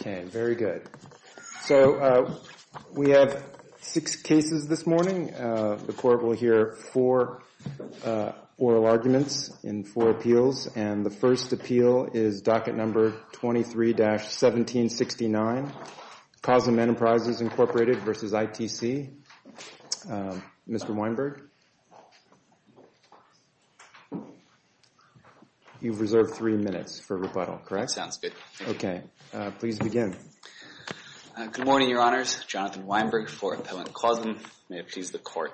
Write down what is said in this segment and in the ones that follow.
Okay, very good. So we have six cases this morning. The court will hear four oral arguments in four appeals, and the first appeal is docket number 23-1769, Causam Enterprises, Inc. v. ITC. Mr. Weinberg? You've reserved three minutes for rebuttal, correct? Okay, please begin. Good morning, Your Honors. Jonathan Weinberg for Appellant Causam. May it please the Court.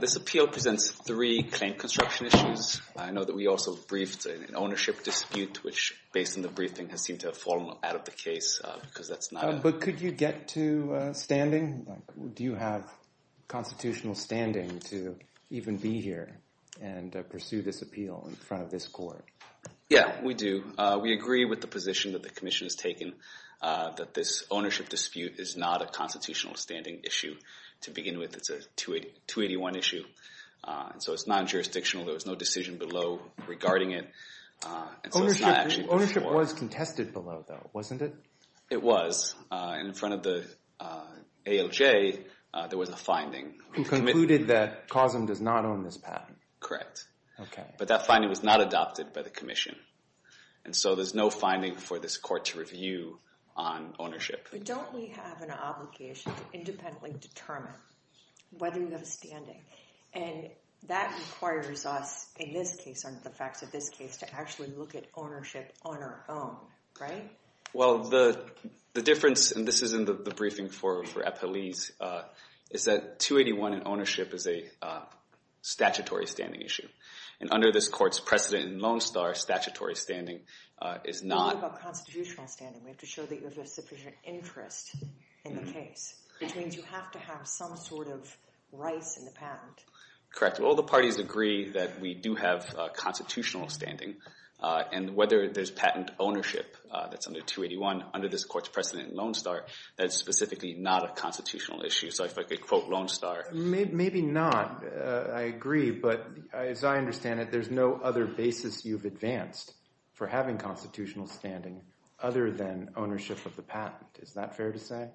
This appeal presents three claim construction issues. I know that we also briefed an ownership dispute, which, based on the briefing, has seemed to have fallen out of the case because that's not... But could you get to standing? Do you have constitutional standing to even be here and pursue this appeal in front of this Court? Yeah, we do. We agree with the position that the Commission has taken, that this ownership dispute is not a constitutional standing issue to begin with. It's a 281 issue, so it's non-jurisdictional. There was no decision below regarding it. Ownership was contested below, though, wasn't it? It was. In front of the ALJ, there was a finding. Who concluded that Causam does not own this patent? Correct. But that finding was not adopted by the Commission, and so there's no finding for this Court to review on ownership. But don't we have an obligation to independently determine whether we have a standing? And that requires us, in this case, under the facts of this case, to actually look at ownership on our own, right? Well, the difference, and this is in the briefing for Appellees, is that 281 in ownership is a statutory standing issue. And under this Court's precedent in Lone Star, statutory standing is not... We're talking about constitutional standing. We have to show that you have a sufficient interest in the case. It means you have to have some sort of rights in the patent. Correct. Well, the parties agree that we do have constitutional standing, and whether there's patent ownership that's under 281, under this Court's precedent in Lone Star, that's specifically not a constitutional issue. So if I could quote Lone Star... Maybe not. I agree, but as I understand it, there's no other basis you've advanced for having constitutional standing other than ownership of the patent. Is that fair to say?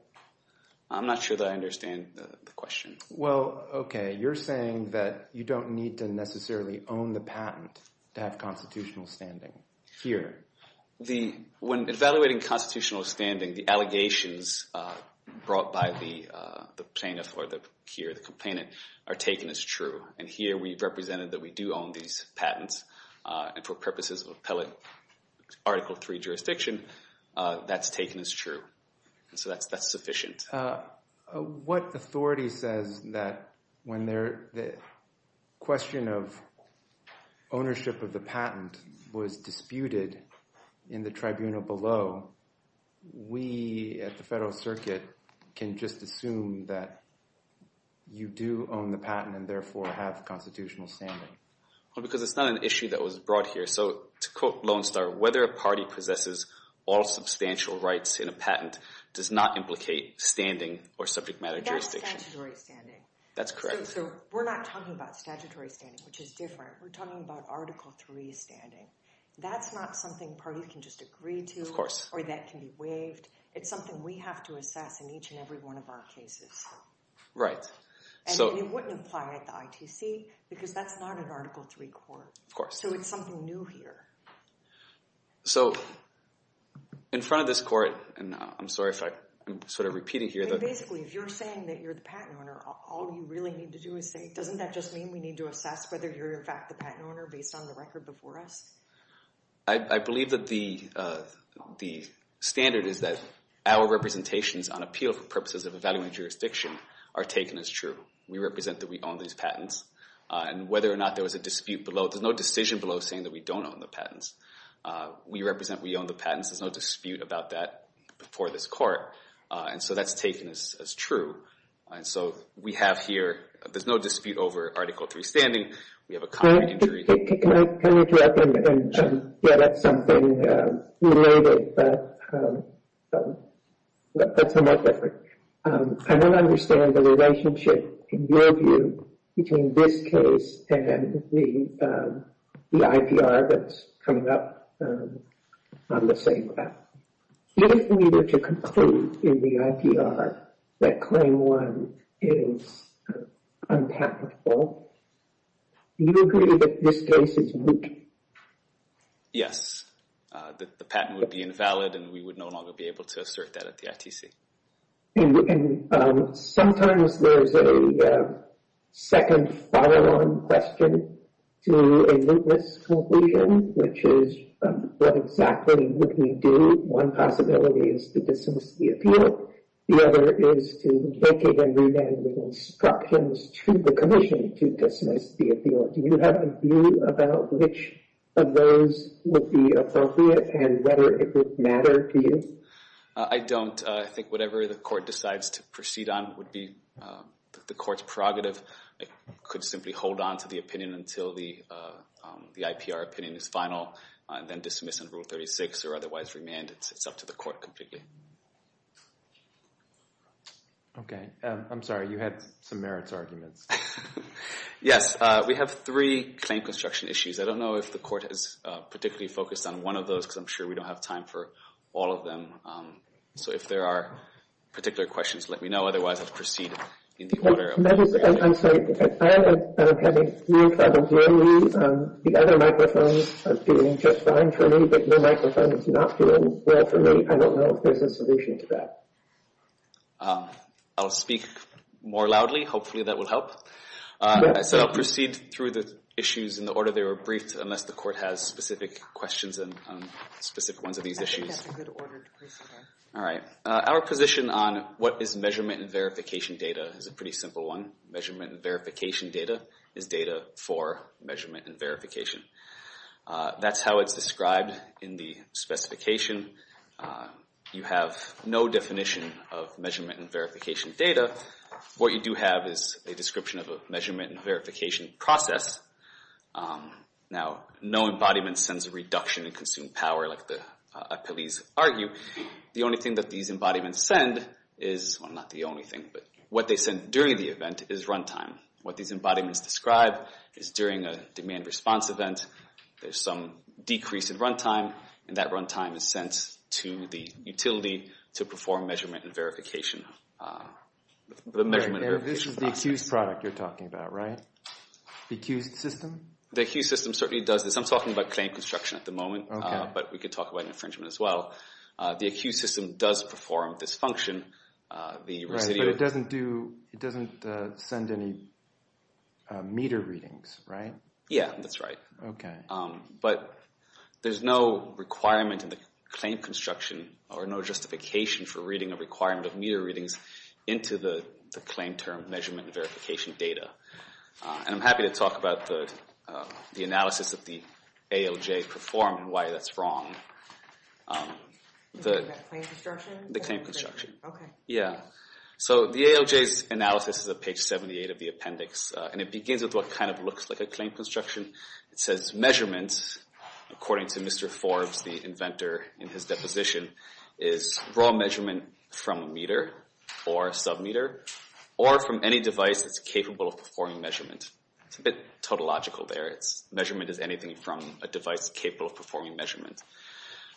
I'm not sure that I understand the question. Well, okay. You're saying that you don't need to necessarily own the patent to have constitutional standing here. When evaluating constitutional standing, the allegations brought by the plaintiff or the complainant are taken as true. And here we've represented that we do own these patents, and for purposes of appellate Article III jurisdiction, that's taken as true. So that's sufficient. What authority says that when the question of ownership of the patent was disputed in the tribunal below, we at the Federal Circuit can just assume that you do own the patent and therefore have constitutional standing? Because it's not an issue that was brought here. So to quote Lone Star, whether a party possesses all substantial rights in a patent does not implicate standing or subject matter jurisdiction. That's statutory standing. That's correct. So we're not talking about statutory standing, which is different. We're talking about Article III standing. That's not something parties can just agree to. Or that can be waived. It's something we have to assess in each and every one of our cases. Right. And it wouldn't apply at the ITC because that's not an Article III court. Of course. So it's something new here. So in front of this court, and I'm sorry if I'm sort of repeating here. Basically, if you're saying that you're the patent owner, all you really need to do is say, doesn't that just mean we need to assess whether you're in fact the patent owner based on the record before us? I believe that the standard is that our representations on appeal for purposes of evaluating jurisdiction are taken as true. We represent that we own these patents. And whether or not there was a dispute below, there's no decision below saying that we don't own the patents. We represent we own the patents. There's no dispute about that before this court. And so that's taken as true. And so we have here, there's no dispute over Article III standing. We have a copy to jury. Can I interrupt and get at something related that's somewhat different? I don't understand the relationship, in your view, between this case and the IPR that's coming up on the same graph. If we were to conclude in the IPR that Claim 1 is unpatentable, do you agree that this case is lewd? Yes. The patent would be invalid, and we would no longer be able to assert that at the ITC. And sometimes there's a second follow-on question to a lewdness conclusion, which is what exactly would we do? One possibility is to dismiss the appeal. The other is to make it a remand with instructions to the commission to dismiss the appeal. Do you have a view about which of those would be appropriate and whether it would matter to you? I don't. I think whatever the court decides to proceed on would be the court's prerogative. I could simply hold on to the opinion until the IPR opinion is final and then dismiss under Rule 36 or otherwise remand. It's up to the court completely. OK. I'm sorry. You had some merits arguments. Yes. We have three claim construction issues. I don't know if the court has particularly focused on one of those, because I'm sure we don't have time for all of them. So if there are particular questions, let me know. Otherwise, I'll proceed in the order. I'm sorry. If I have a view that I'm willing, the other microphones are doing just fine for me. But the microphone is not doing well for me. I don't know if there's a solution to that. I'll speak more loudly. Hopefully, that will help. As I said, I'll proceed through the issues in the order they were briefed, unless the court has specific questions on specific ones of these issues. I think that's a good order to proceed on. All right. Our position on what is measurement and verification data is a pretty simple measurement and verification data is data for measurement and verification. That's how it's described in the specification. You have no definition of measurement and verification data. What you do have is a description of a measurement and verification process. Now, no embodiment sends a reduction in consumed power, like the appellees argue. The only thing that these embodiments send is, well, not the only thing, but what they send during the event is run time. What these embodiments describe is during a demand response event, there's some decrease in run time, and that run time is sent to the utility to perform measurement and verification. This is the accused product you're talking about, right? The accused system? The accused system certainly does this. I'm talking about claim construction at the moment, but we could talk about infringement as well. The accused system does perform this function. But it doesn't send any meter readings, right? Yeah, that's right. But there's no requirement in the claim construction or no justification for reading a requirement of meter readings into the claim term measurement and verification data. And I'm happy to talk about the analysis that the ALJ performed and why that's wrong. You're talking about claim construction? The claim construction. Okay. So the ALJ's analysis is at page 78 of the appendix, and it begins with what kind of looks like a claim construction. It says measurement, according to Mr. Forbes, the inventor in his deposition, is raw measurement from a meter or a submeter or from any device that's capable of performing measurement. It's a bit tautological there. It's measurement is anything from a device capable of performing measurement.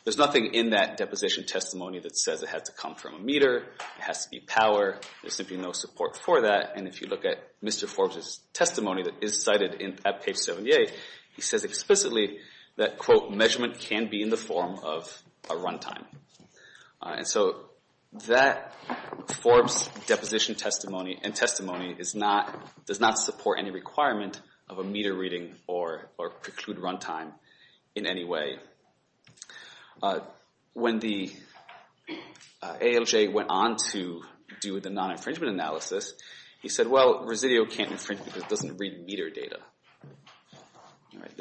There's nothing in that deposition testimony that says it had to come from a meter has to be power. There's simply no support for that. And if you look at Mr. Forbes' testimony that is cited at page 78, he says explicitly that, quote, measurement can be in the form of a runtime. And so that Forbes deposition testimony and testimony does not support any requirement of a meter reading or preclude runtime in any way. When the ALJ went on to do the non-infringement analysis, he said, well, Resideo can't infringe because it doesn't read meter data.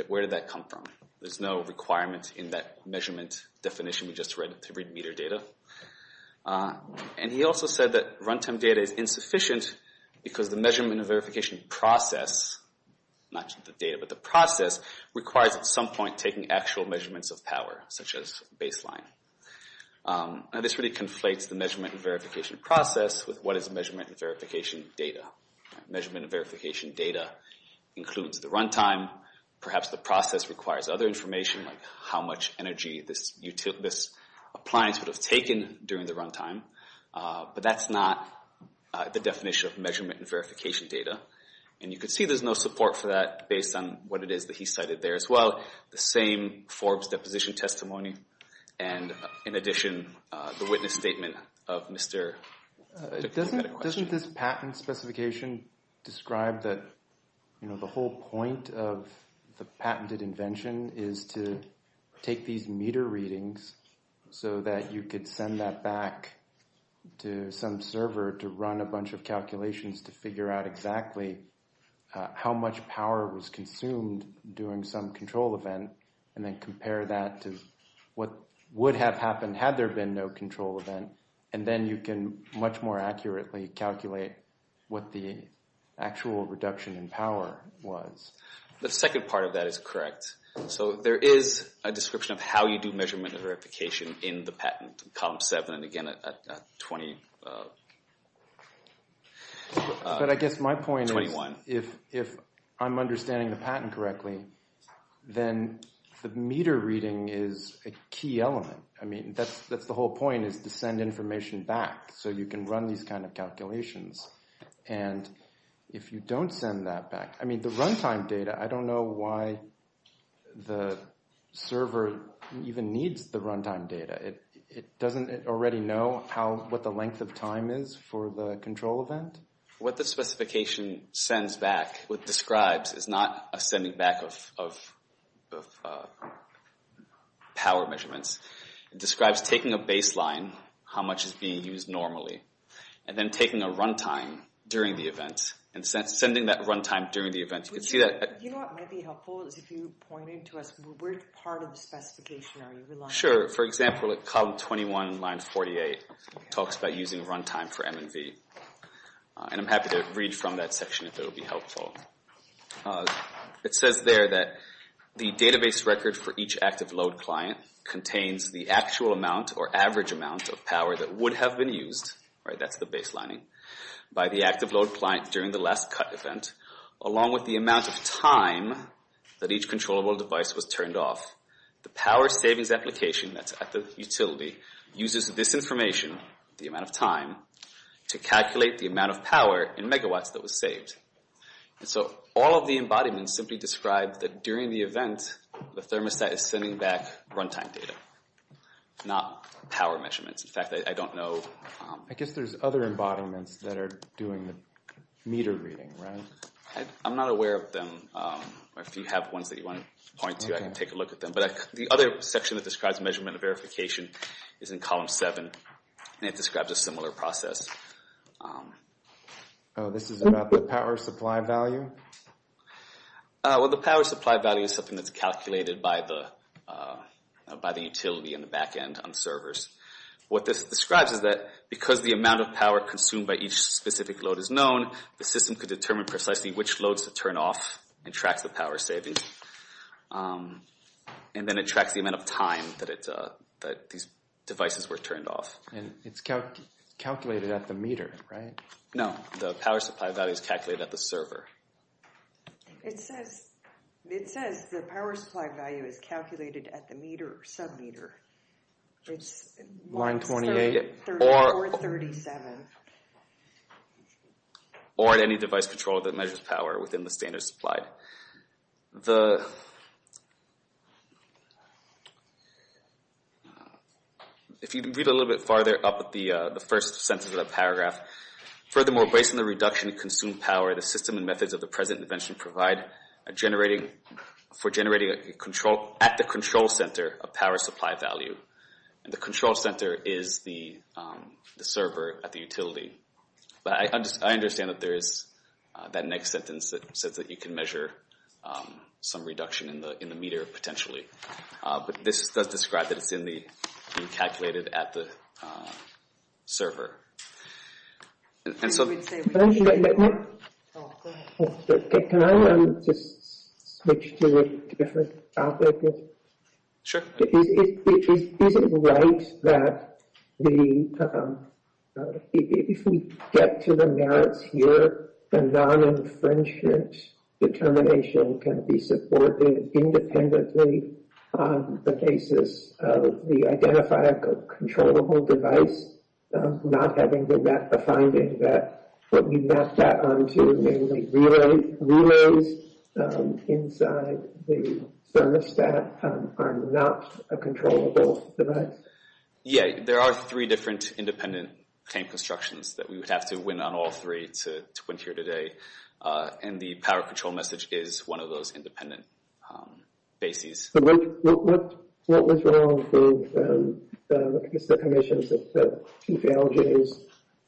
Where did that come from? There's no requirement in that measurement definition. We just read it to read meter data. And he also said that runtime data is insufficient because the measurement verification process, not just the data, but the process requires at some point taking actual measurements of power, such as baseline. And this really conflates the measurement and verification process with what is measurement and verification data. Measurement and verification data includes the runtime. Perhaps the process requires other information like how much energy this appliance would have taken during the runtime. But that's not the definition of measurement and verification data. And you can see there's no support for that based on what it is that he cited there as well. The same Forbes deposition testimony. And in addition, the witness statement of Mr. Dickinson had a question. Doesn't this patent specification describe that the whole point of the patented invention is to take these meter readings so that you could send that back to some server to run a bunch of calculations to figure out exactly how much power was consumed during some control event and then compare that to what would have happened had there been no control event. And then you can much more accurately calculate what the actual reduction in power was. The second part of that is correct. So there is a description of how you do measurement and verification in the patent, column seven, and again at 20. But I guess my point is, if I'm understanding the patent correctly, then the meter reading is a key element. I mean, that's the whole point is to send information back so you can run these kind of calculations. And if you don't send that back, I mean, the runtime data, I don't know why the server even needs the runtime data. It doesn't already know what the length of time is for the control event? What the specification sends back, what it describes, is not a sending back of power measurements. It describes taking a baseline, how much is being used normally, and then taking a runtime during the event and sending that runtime during the event. You can see that. You know what might be helpful is if you pointed to us, what part of the specification are you relying on? Sure. For example, column 21, line 48 talks about using runtime for MNV. And I'm happy to read from that section if it will be helpful. It says there that the database record for each active load client contains the actual amount or average amount of power that would have been used, right, that's the baselining, by the active load client during the last cut event, along with the amount of time that each controllable device was turned off. The power savings application that's at the utility uses this information, the amount of time, to calculate the amount of power in megawatts that was saved. So all of the embodiments simply describe that during the event, the thermostat is sending back runtime data, not power measurements. In fact, I don't know. I guess there's other embodiments that are doing the meter reading, right? I'm not aware of them. If you have ones that you want to point to, I can take a look at them. But the other section that describes measurement and verification is in column 7, and it describes a similar process. This is about the power supply value? Well, the power supply value is something that's calculated by the utility in the back end on servers. What this describes is that because the amount of power consumed by each specific load is system could determine precisely which loads to turn off and track the power savings. And then it tracks the amount of time that these devices were turned off. And it's calculated at the meter, right? No. The power supply value is calculated at the server. It says the power supply value is calculated at the meter or submeter. It's line 28 or 37. Or at any device controller that measures power within the standards supplied. If you read a little bit farther up at the first sentence of the paragraph, furthermore, based on the reduction in consumed power, the system and methods of the present invention provide for generating at the control center a power supply value. And the control center is the server at the utility. But I understand that there is that next sentence that says that you can measure some reduction in the meter potentially. But this does describe that it's being calculated at the server. Can I just switch to a different topic? Sure. Is it right that if we get to the merits here, the non-infringement determination can be supported independently on the basis of the identifier controllable device not having the finding that what we map that onto, the relays inside the thermostat are not a controllable device? Yeah. There are three different independent tank constructions that we would have to win on all three to win here today. And the power control message is one of those independent bases. What was wrong with the commission's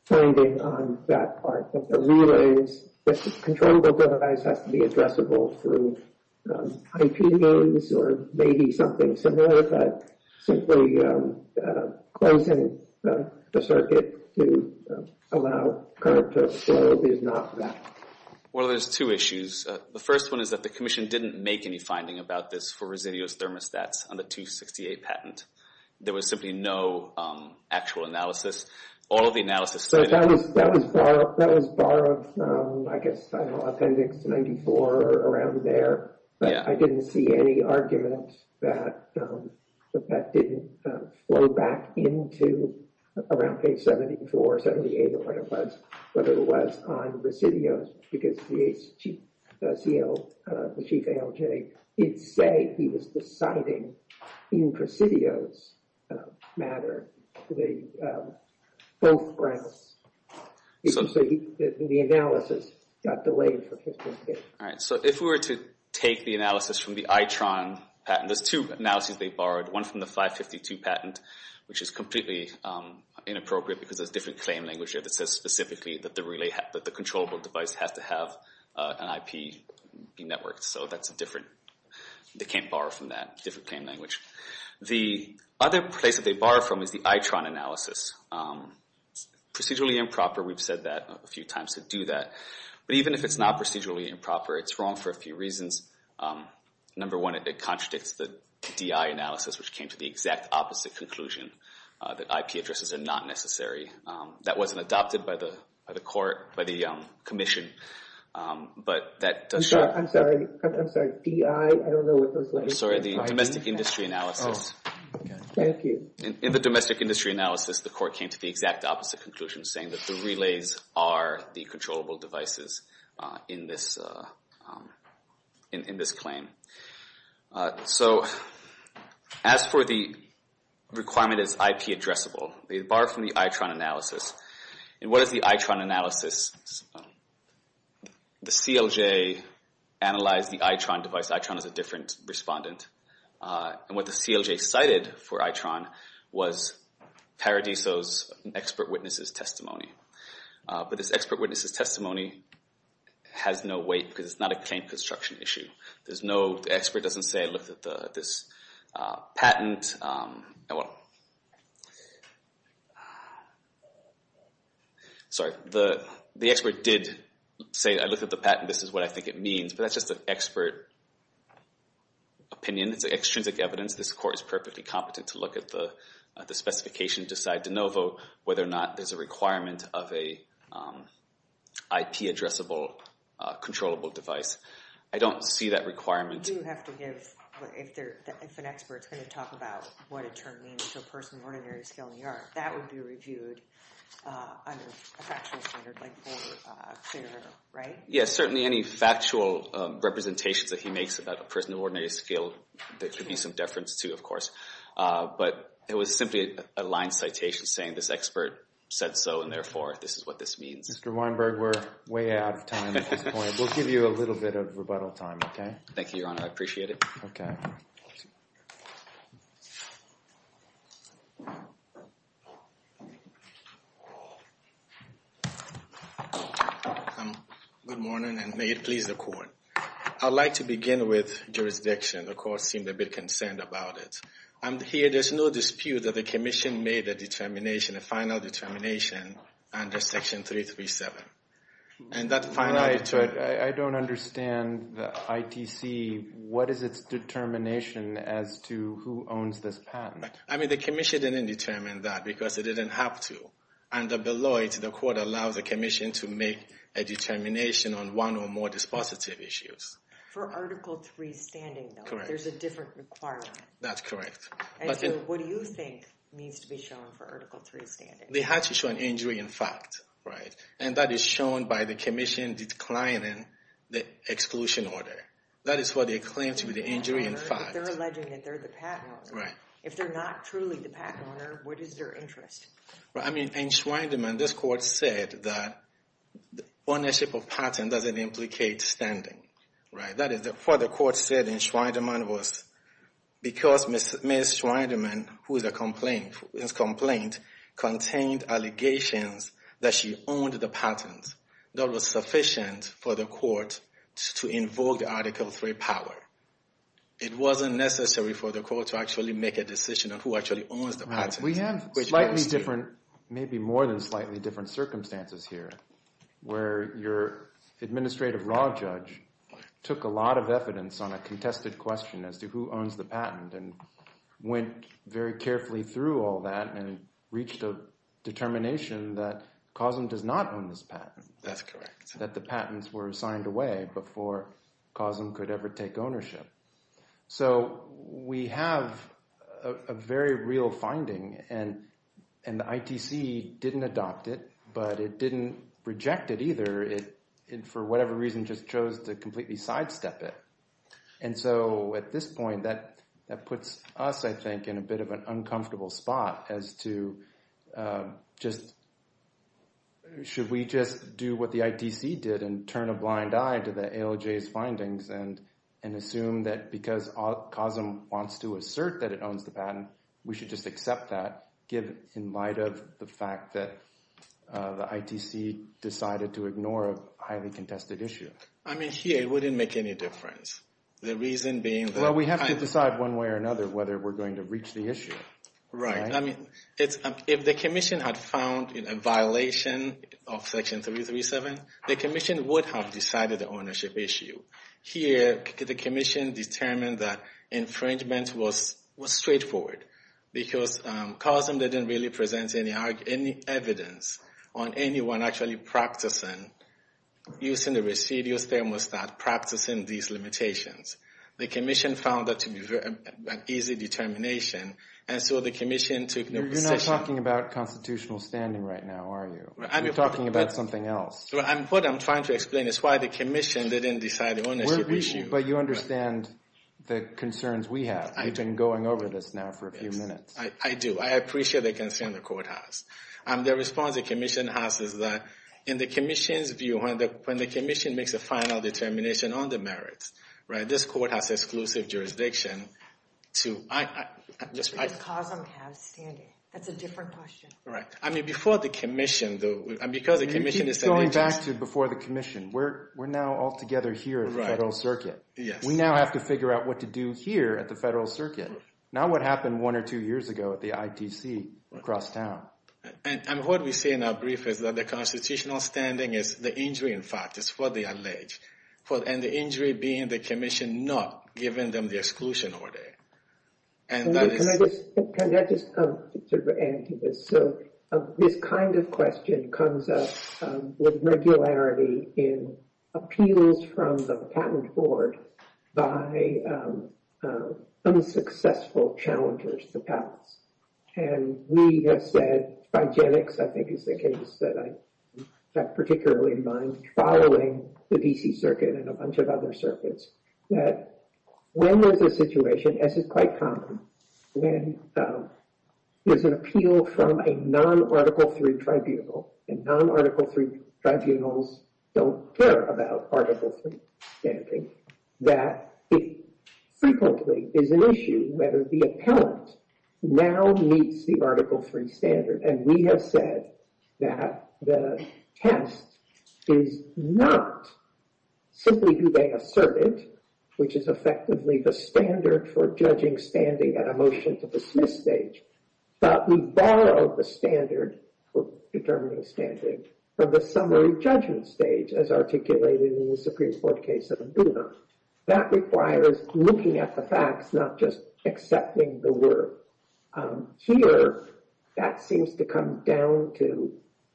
finding on that part? The rule is the controllable device has to be addressable through IPs or maybe something similar, but simply closing the circuit to allow current to flow is not that. Well, there's two issues. The first one is that the commission didn't make any finding about this for Residio's thermostats on the 268 patent. There was simply no actual analysis. All of the analysis. That was borrowed from, I guess, Appendix 94 or around there. But I didn't see any argument that that didn't flow back into around page 74 or 78 or whatever it was on Residio's because the chief ALJ did say he was deciding in Residio's matter. Both brands. The analysis got delayed. All right. So if we were to take the analysis from the ITRON patent, there's two analyses they One from the 552 patent, which is completely inappropriate because there's different claim language that says specifically that the controllable device has to have an IP network. So that's different. They can't borrow from that different claim language. The other place that they borrow from is the ITRON analysis. Procedurally improper. We've said that a few times to do that. But even if it's not procedurally improper, it's wrong for a few reasons. Number one, it contradicts the DI analysis, which came to the exact opposite conclusion that IP addresses are not necessary. That wasn't adopted by the commission. But that does show. I'm sorry. I'm sorry. DI. I don't know what those letters mean. I'm sorry. The domestic industry analysis. Thank you. In the domestic industry analysis, the court came to the exact opposite conclusion saying that the relays are the controllable devices in this claim. So as for the requirement is IP addressable, they borrow from the ITRON analysis. And what is the ITRON analysis? The CLJ analyzed the ITRON device. ITRON is a different respondent. And what the CLJ cited for ITRON was Paradiso's expert witnesses testimony. But this expert witnesses testimony has no weight because it's not a claim construction issue. There's no expert doesn't say I looked at this patent. Sorry. The expert did say I looked at the patent. This is what I think it means. But that's just an expert opinion. It's extrinsic evidence. This court is perfectly competent to look at the specification, decide de novo whether or not there's a requirement of a IP addressable controllable device. I don't see that requirement. You have to give, if an expert's going to talk about what a term means to a person of ordinary skill in the art, that would be reviewed under a factual standard, like for a clearer, right? Yes, certainly any factual representations that he makes about a person of ordinary skill could be some deference, too, of course. But it was simply a line citation saying this expert said so. And therefore, this is what this means. Mr. Weinberg, we're way out of time at this point. We'll give you a little bit of rebuttal time, OK? Thank you, Your Honor. I appreciate it. OK. Good morning, and may it please the court. I'd like to begin with jurisdiction. The court seemed a bit concerned about it. And here, there's no dispute that the commission made a determination, a final determination under Section 337. And that final determination- Right, but I don't understand the ITC. What is its determination as to who owns this patent? I mean, the commission didn't determine that because it didn't have to. Under Beloit, the court allows the commission to make a determination on one or more dispositive issues. For Article III standing, though, there's a different requirement. That's correct. And so what do you think needs to be shown for Article III standing? They had to show an injury in fact, right? And that is shown by the commission declining the exclusion order. That is what they claim to be the injury in fact. They're alleging that they're the patent owner. Right. If they're not truly the patent owner, what is their interest? I mean, in Schweindemann, this court said that ownership of patent doesn't implicate standing. Right, that is what the court said in Schweindemann was because Ms. Schweindemann, whose complaint contained allegations that she owned the patent, that was sufficient for the court to invoke the Article III power. It wasn't necessary for the court to actually make a decision on who actually owns the patent. We have slightly different, maybe more than slightly different circumstances here, where your administrative raw judge took a lot of evidence on a contested question as to who owns the patent and went very carefully through all that and reached a determination that COSM does not own this patent. That's correct. That the patents were signed away before COSM could ever take ownership. So we have a very real finding and the ITC didn't adopt it, but it didn't reject it either. It, for whatever reason, just chose to completely sidestep it. And so at this point, that puts us, I think, in a bit of an uncomfortable spot as to just, should we just do what the ITC did and turn a blind eye to the ALJ's findings and assume that because COSM wants to assert that it owns the patent, we should just accept that in light of the fact that the ITC decided to ignore a highly contested issue? I mean, here it wouldn't make any difference. The reason being that... Well, we have to decide one way or another whether we're going to reach the issue. Right. I mean, if the Commission had found a violation of Section 337, the Commission would have decided the ownership issue. Here, the Commission determined that infringement was straightforward because COSM didn't really present any evidence on anyone actually practicing, using the Residuals Thermostat, practicing these limitations. The Commission found that to be an easy determination, and so the Commission took no position. You're not talking about constitutional standing right now, are you? You're talking about something else. What I'm trying to explain is why the Commission didn't decide the ownership issue. But you understand the concerns we have. We've been going over this now for a few minutes. I do. I appreciate the concern the Court has. The response the Commission has is that in the Commission's view, when the Commission makes a final determination on the merits, right, this Court has exclusive jurisdiction to... But does COSM have standing? That's a different question. Right. I mean, before the Commission, though, You keep going back to before the Commission. We're now all together here at the Federal Circuit. We now have to figure out what to do here at the Federal Circuit, not what happened one or two years ago at the ITC across town. And what we say in our brief is that the constitutional standing is the injury, in fact. It's for the alleged. And the injury being the Commission not giving them the exclusion order. Can I just add to this? So this kind of question comes up with regularity in appeals from the Patent Board by unsuccessful challengers to pass. And we have said, by Jennings, I think is the case that I particularly mind, following the D.C. Circuit and a bunch of other circuits, that when there's a situation, as is quite common, when there's an appeal from a non-Article 3 tribunal, and non-Article 3 tribunals don't care about Article 3 standing, that it frequently is an issue whether the appellant now meets the Article 3 standard. And we have said that the test is not simply do they assert it, which is effectively the standard for judging standing at a motion to dismiss stage, but we borrow the standard for determining standard from the summary judgment stage, as articulated in the Supreme Court case of Mbuna. That requires looking at the facts, not just accepting the work. Here, that seems to come down to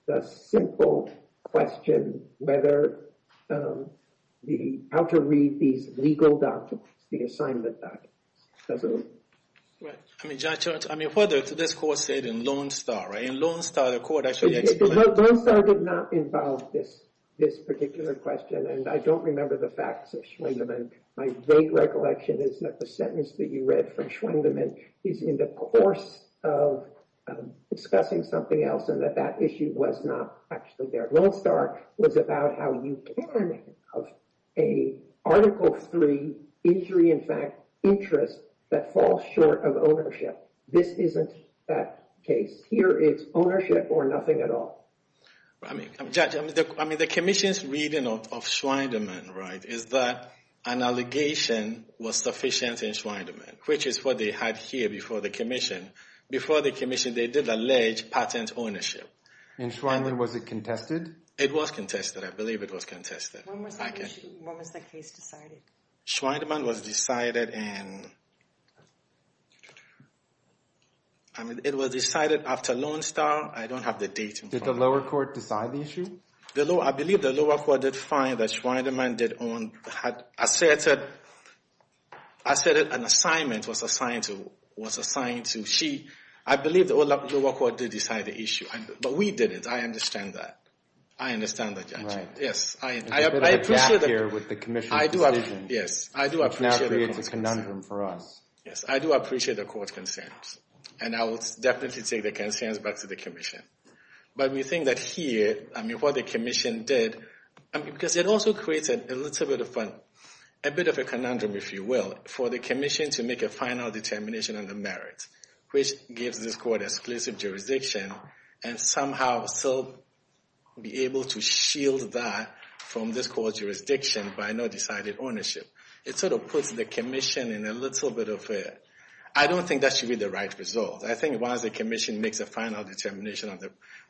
the simple question, whether the, how to read these legal documents, the assignment documents, doesn't it? Right. I mean, Judge, I mean, whether to this court said in Lone Star, right? In Lone Star, the court actually explained. Lone Star did not involve this particular question. And I don't remember the facts of Schwendemann. My vague recollection is that the sentence that you read from Schwendemann is in the course of discussing something else, and that that issue was not actually there. Lone Star was about how you can have a Article 3 injury, in fact, interest that falls short of ownership. This isn't that case. Here, it's ownership or nothing at all. I mean, Judge, I mean, the commission's reading of Schwendemann, right, is that an allegation was sufficient in Schwendemann, which is what they had here before the commission. Before the commission, they did allege patent ownership. In Schwendemann, was it contested? It was contested. I believe it was contested. When was the issue, when was the case decided? Schwendemann was decided in, I mean, it was decided after Lone Star. I don't have the date. Did the lower court decide the issue? I believe the lower court did find that Schwendemann did own, asserted, asserted an assignment was assigned to, was assigned to. She, I believe the lower court did decide the issue, but we didn't. I understand that. I understand that, Judge. Yes. There's a bit of a gap here with the commission's decision, which now creates a conundrum for us. Yes, I do appreciate the court's concerns, and I will definitely take the concerns back to the commission. But we think that here, I mean, what the commission did, because it also created a little bit of a, a bit of a conundrum, if you will, for the commission to make a final determination on the merit, which gives this court exclusive jurisdiction, and somehow still be able to shield that from this court's jurisdiction by no decided ownership. It sort of puts the commission in a little bit of a, I don't think that should be the right result. I think once the commission makes a final determination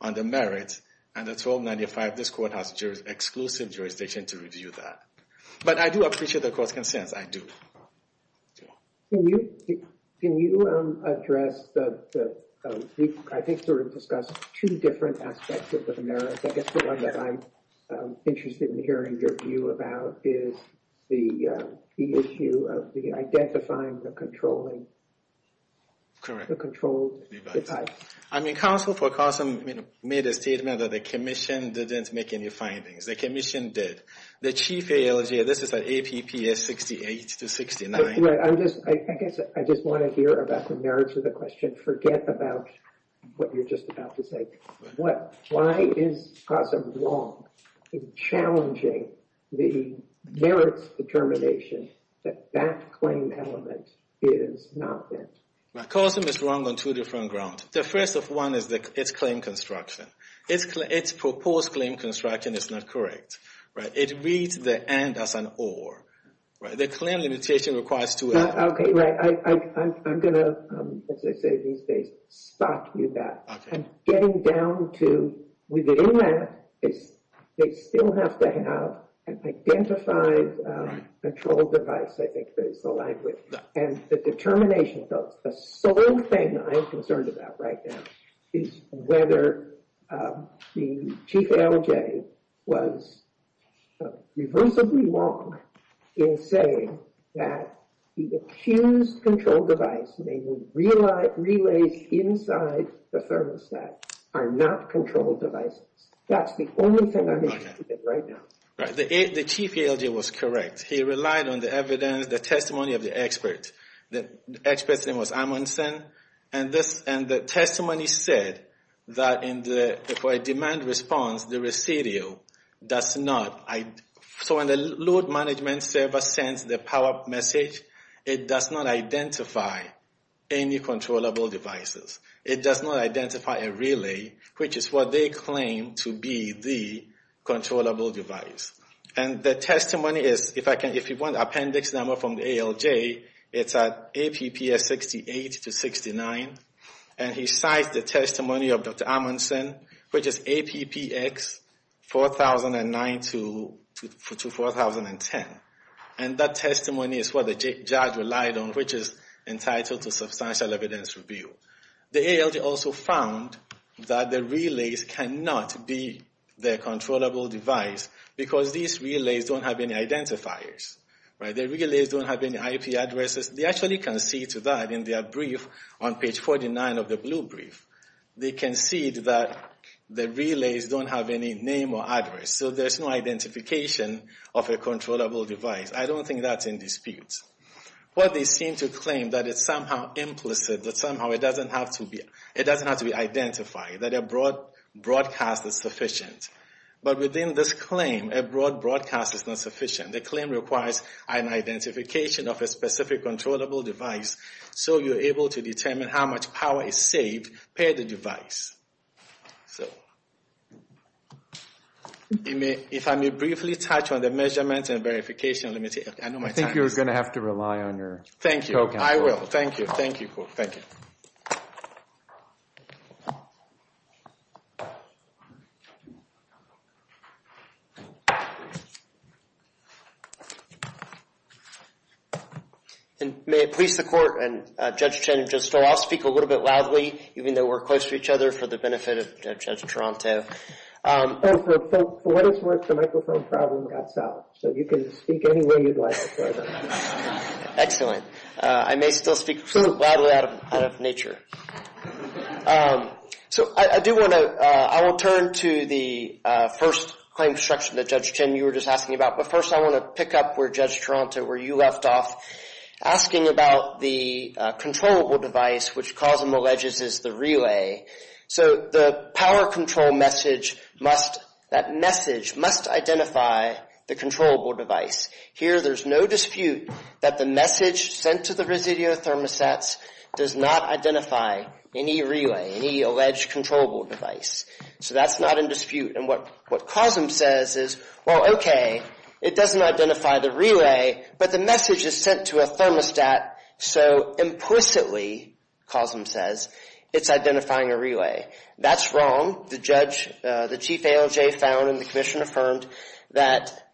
on the merit, and the 1295, this court has exclusive jurisdiction to review that. But I do appreciate the court's concerns, I do. Can you address the, I think sort of discuss two different aspects of the merit. I guess the one that I'm interested in hearing your view about is the issue of the identifying the controlling. Correct. The controlled type. I mean, counsel for Cosom made a statement that the commission didn't make any findings. The commission did. The chief ALJ, this is an APPS 68 to 69. Right, I'm just, I guess I just want to hear about the merits of the question. Forget about what you're just about to say. Why is Cosom wrong in challenging the merits determination that that claim element is not bent? Cosom is wrong on two different grounds. The first of one is its claim construction. Its proposed claim construction is not correct. Right, it reads the and as an or. Right, the claim limitation requires two and. Okay, right. I'm going to, as I say these days, spot you that. I'm getting down to, within that, they still have to have an identified control device, I think that is the language. And the determination, folks, the sole thing I'm concerned about right now is whether the chief ALJ was reversibly wrong in saying that the accused control device, namely relays inside the thermostat, are not control devices. That's the only thing I'm interested in right now. Right, the chief ALJ was correct. He relied on the evidence, the testimony of the expert. The expert's name was Amundsen. And the testimony said that for a demand response, the residual does not, so when the load management server sends the power message, it does not identify any controllable devices. It does not identify a relay, which is what they claim to be the controllable device. And the testimony is, if you want appendix number from the ALJ, it's at APPS 68 to 69. And he cites the testimony of Dr. Amundsen, which is APPX 4009 to 4010. And that testimony is what the judge relied on, which is entitled to substantial evidence review. The ALJ also found that the relays cannot be the controllable device because these relays don't have any identifiers. The relays don't have any IP addresses. They actually concede to that in their brief on page 49 of the blue brief. They concede that the relays don't have any name or address, so there's no identification of a controllable device. I don't think that's in dispute. But they seem to claim that it's somehow implicit, that somehow it doesn't have to be identified, that a broadcast is sufficient. But within this claim, a broad broadcast is not sufficient. The claim requires an identification of a specific controllable device so you're able to determine how much power is saved per the device. If I may briefly touch on the measurements and verification, let me take... I know my time is running out. I think you're going to have to rely on your co-counsel. Thank you, I will. Thank you, thank you. And may it please the court and Judge Chin and Judge Stoll, I'll speak a little bit loudly, even though we're close to each other, for the benefit of Judge Toronto. And for folks, what is worth the microphone problem got solved, so you can speak any way you'd like. Excellent. I may still speak loudly out of nature. So I do want to... I will turn to the first claim structure that Judge Chin, you were just asking about. But first, I want to talk a little bit about where Judge Toronto, where you left off, asking about the controllable device, which COSM alleges is the relay. So the power control message must... that message must identify the controllable device. Here, there's no dispute that the message sent to the residio thermosets does not identify any relay, any alleged controllable device. So that's not in dispute. And what COSM says is, well, okay, it doesn't identify the relay, but the message is sent to a thermostat. So implicitly, COSM says, it's identifying a relay. That's wrong. The judge, the chief ALJ found, and the commission affirmed, that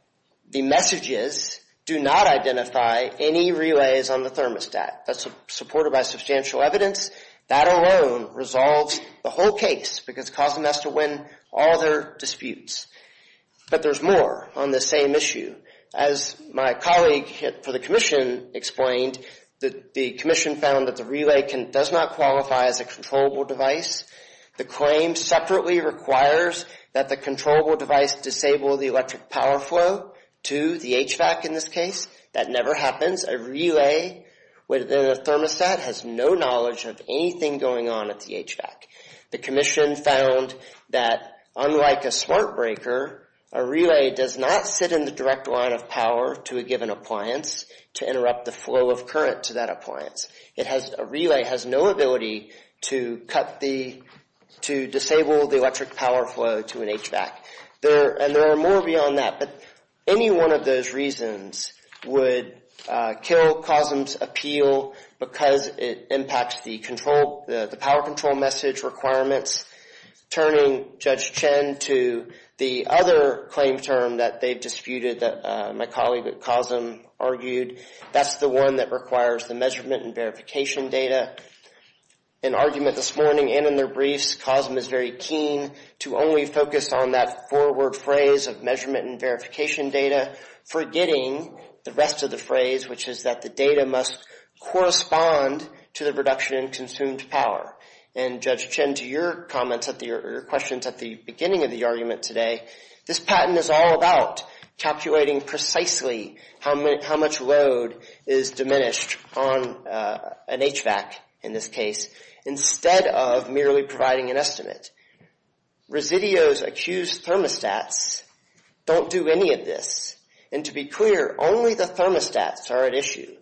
the messages do not identify any relays on the thermostat. That's supported by substantial evidence. That alone resolves the whole case, because COSM has to win all their disputes. But there's more on the same issue. As my colleague for the commission explained, the commission found that the relay does not qualify as a controllable device. The claim separately requires that the controllable device disable the electric power flow to the HVAC in this case. That never happens. A relay within a thermostat has no knowledge of anything going on at the HVAC. The commission found that, unlike a smart breaker, a relay does not sit in the direct line of power to a given appliance to interrupt the flow of current to that appliance. It has, a relay has no ability to cut the, to disable the electric power flow to an HVAC. There, and there are more beyond that, but any one of those reasons would kill COSM's appeal because it impacts the control, the power control message requirements. Turning Judge Chen to the other claim term that they've disputed, that my colleague at COSM argued, that's the one that requires the measurement and verification data. In argument this morning and in their briefs, COSM is very keen to only focus on that four word phrase of measurement and verification data, forgetting the rest of the phrase, which is that the data must correspond to the reduction in consumed power. And Judge Chen, to your comments at the, your questions at the beginning of the argument today, this patent is all about calculating precisely how much load is diminished on an HVAC, in this case, instead of merely providing an estimate. Residios accused thermostats don't do any of this. And to be clear, only the thermostats are at issue.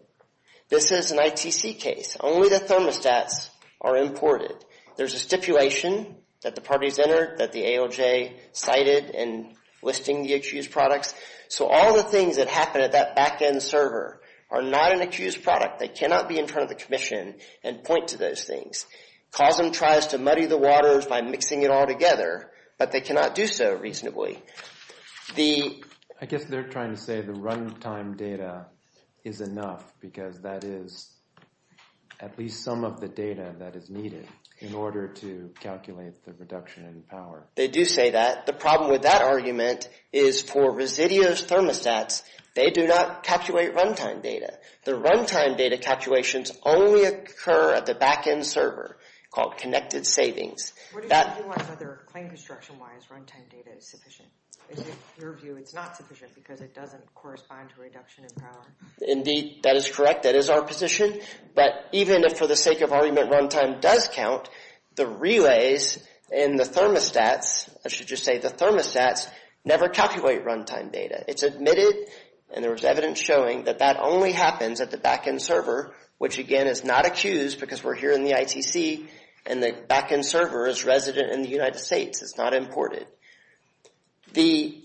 This is an ITC case. Only the thermostats are imported. There's a stipulation that the parties entered that the AOJ cited in listing the accused products. So all the things that happen at that backend server are not an accused product. They cannot be in front of the commission and point to those things. COSM tries to muddy the waters by mixing it all together, but they cannot do so reasonably. The... I guess they're trying to say the runtime data is enough, because that is at least some of the data that is needed in order to calculate the reduction in power. They do say that. The problem with that argument is for residios thermostats, they do not calculate runtime data. The runtime data calculations only occur at the backend server called connected savings. What do you want whether claim construction-wise runtime data is sufficient? Is it your view it's not sufficient because it doesn't correspond to reduction in power? Indeed, that is correct. That is our position. But even if for the sake of argument runtime does count, the relays in the thermostats, I should just say the thermostats, never calculate runtime data. It's admitted, and there was evidence showing that that only happens at the backend server, which again is not accused because we're here in the ITC and the backend server is resident in the United States. It's not imported. The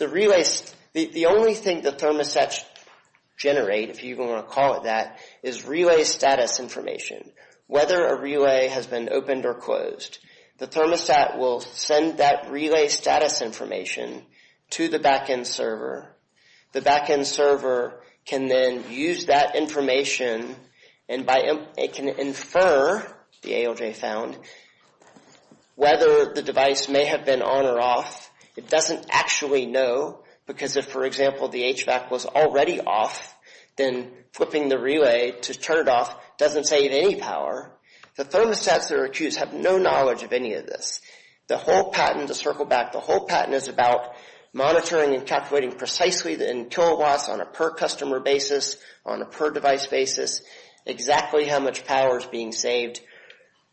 only thing the thermostats generate, if you even want to call it that, is relay status information. Whether a relay has been opened or closed, the thermostat will send that relay status information to the backend server. The backend server can then use that information and it can infer, the ALJ found, whether the device may have been on or off. It doesn't actually know because if, for example, the HVAC was already off, then flipping the relay to turn it off doesn't save any power. The thermostats that are accused have no knowledge of any of this. The whole patent, to circle back, the whole patent is about monitoring and calculating precisely in kilowatts on a per customer basis, on a per device basis, exactly how much power is being saved.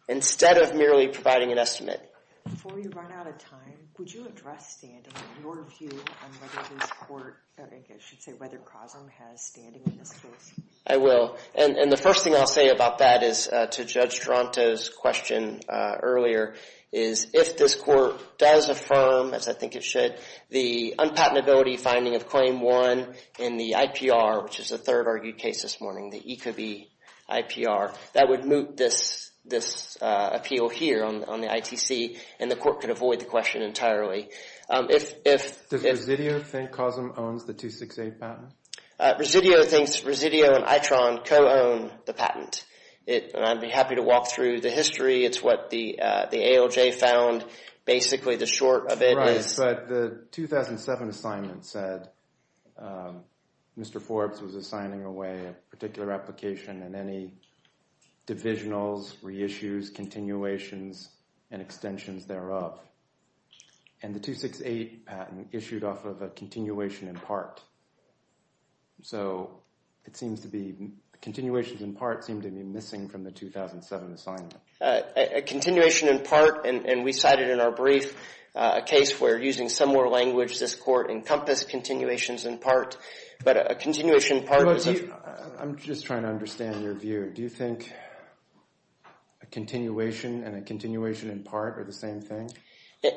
Instead of merely providing an estimate. Before we run out of time, would you address, Stan, in your view on whether this court, or I guess I should say, whether COSM has standing in this case? I will. And the first thing I'll say about that is to Judge Toronto's question earlier, is if this court does affirm, as I think it should, the unpatentability finding of claim one in the IPR, which is the third argued case this morning, the Ecobee IPR, that would moot this appeal here on the ITC and the court could avoid the question entirely. Does Resideo think COSM owns the 268 patent? Resideo thinks Resideo and ITRON co-own the patent. I'd be happy to walk through the history. It's what the ALJ found. Basically, the short of it is... Right, but the 2007 assignment said Mr. Forbes was assigning away a particular application and any divisionals, reissues, continuations, and extensions thereof. And the 268 patent issued off of a continuation in part. So it seems to be... Continuations in part seem to be missing from the 2007 assignment. A continuation in part, and we cited in our brief a case where using similar language, this court encompassed continuations in part. But a continuation in part... I'm just trying to understand your view. Do you think a continuation and a continuation in part are the same thing?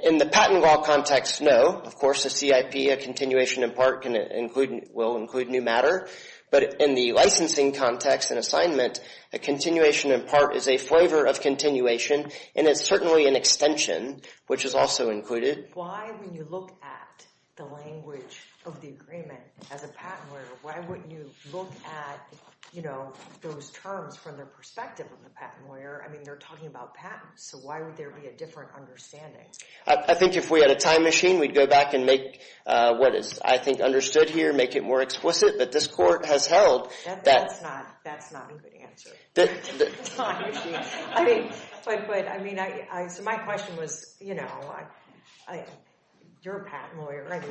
In the patent law context, no. Of course, a CIP, a continuation in part will include new matter. But in the licensing context and assignment, a continuation in part is a flavor of continuation and it's certainly an extension, which is also included. Why, when you look at the language of the agreement as a patent lawyer, why wouldn't you look at those terms from the perspective of the patent lawyer? I mean, they're talking about patents, so why would there be a different understanding? I think if we had a time machine, we'd go back and make what is, I think, understood here, make it more explicit. But this court has held that... That's not a good answer. The time machine. I mean, so my question was, you're a patent lawyer,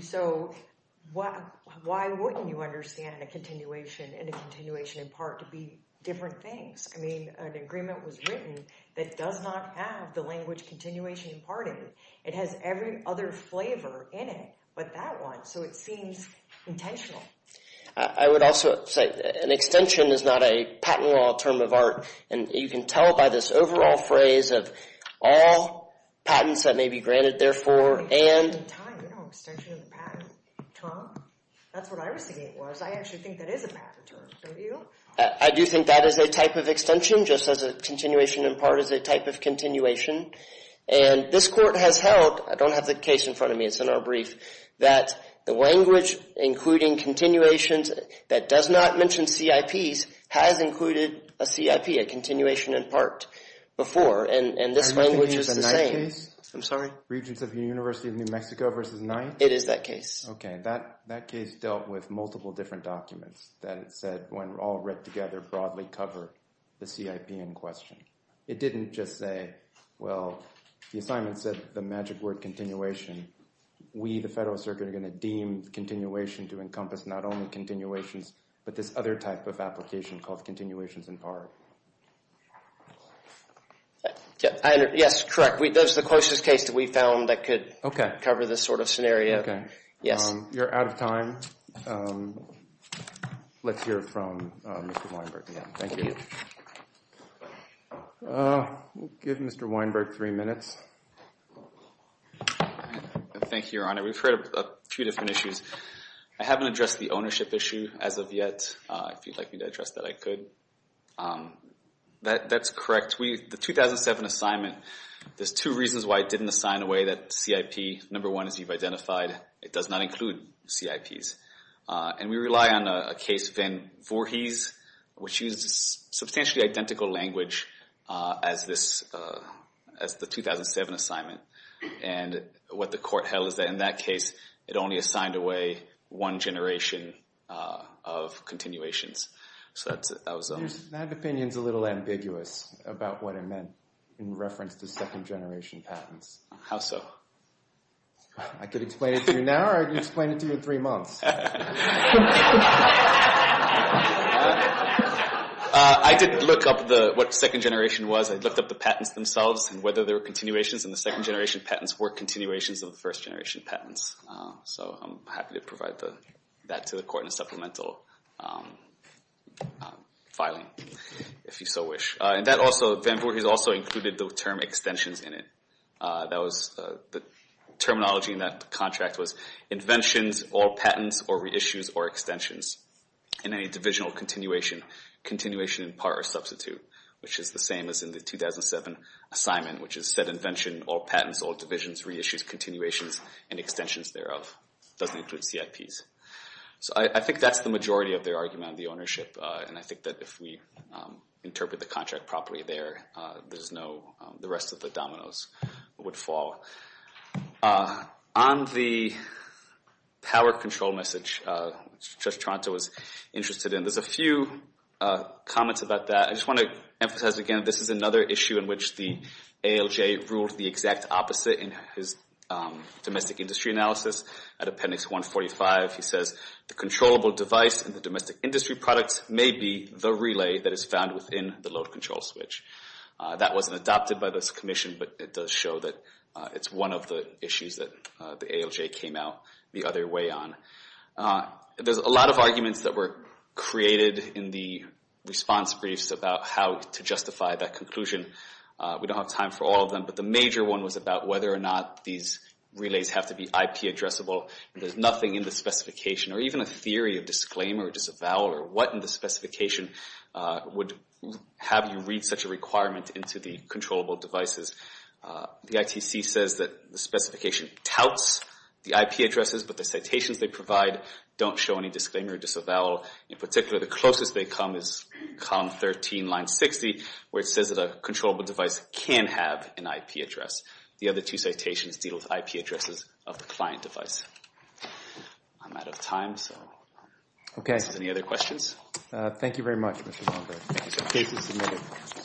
so why wouldn't you understand a continuation and a continuation in part to be different things? I mean, an agreement was written that does not have the language continuation in part in it. It has every other flavor in it, but that one, so it seems intentional. I would also say an extension is not a patent law term of art, and you can tell by this overall phrase of all patents that may be granted, therefore, and... Extension of the patent term, that's what I was thinking it was. I actually think that is a patent term, don't you? I do think that is a type of extension, just as a continuation in part is a type of continuation. And this court has held, I don't have the case in front of me, it's in our brief, that the language including continuations that does not mention CIPs has included a CIP, a continuation in part before, and this language is the same. I'm sorry? Regents of the University of New Mexico versus 9th? It is that case. Okay, that case dealt with multiple different documents that it said when all read together broadly cover the CIP in question. It didn't just say, well, the assignment said the magic word continuation. We, the Federal Circuit, are going to deem continuation to encompass not only continuations, but this other type of application called continuations in part. Yes, correct. That's the closest case that we found that could cover this sort of scenario. Yes. You're out of time. Let's hear from Mr. Weinberg again. Thank you. We'll give Mr. Weinberg three minutes. Thank you, Your Honor. We've heard a few different issues. I haven't addressed the ownership issue as of yet. If you'd like me to address that, I could. That's correct. The 2007 assignment, there's two reasons why it didn't assign away that CIP. Number one, as you've identified, it does not include CIPs. And we rely on a case, Van Voorhis, which uses substantially identical language as the 2007 assignment. And what the court held is that in that case, it only assigned away one generation of continuations. So that was those. That opinion's a little ambiguous about what it meant in reference to second generation patents. How so? I could explain it to you now, or I could explain it to you in three months. I did look up what second generation was. I looked up the patents themselves and whether there were continuations in the second generation patents were continuations of the first generation patents. So I'm happy to provide that to the court in a supplemental filing, if you so wish. And Van Voorhis also included the term extensions in it. The terminology in that contract was inventions, all patents, or reissues, or extensions. In any divisional continuation, continuation in part or substitute, which is the same as in the 2007 assignment, which is said invention, all patents, all divisions, reissues, continuations, and extensions thereof. Doesn't include CIPs. So I think that's the majority of their argument on the ownership. And I think that if we interpret the contract properly there, there's no, the rest of the dominoes would fall. On the power control message, Judge Toronto was interested in, there's a few comments about that. I just want to emphasize again, this is another issue in which the ALJ ruled the exact opposite in his domestic industry analysis at appendix 145. He says, the controllable device in the domestic industry products may be the relay that is found within the load control switch. That wasn't adopted by this commission, but it does show that it's one of the issues that the ALJ came out the other way on. There's a lot of arguments that were created in the response briefs about how to justify that conclusion. We don't have time for all of them, but the major one was about whether or not relays have to be IP addressable. There's nothing in the specification, or even a theory of disclaimer or disavowal, or what in the specification would have you read such a requirement into the controllable devices. The ITC says that the specification touts the IP addresses, but the citations they provide don't show any disclaimer or disavowal. In particular, the closest they come is column 13, line 60, where it says that a controllable device can have an IP address. The other two citations deal with IP addresses of the client device. I'm out of time, so any other questions? Thank you very much, Mr. Longberg.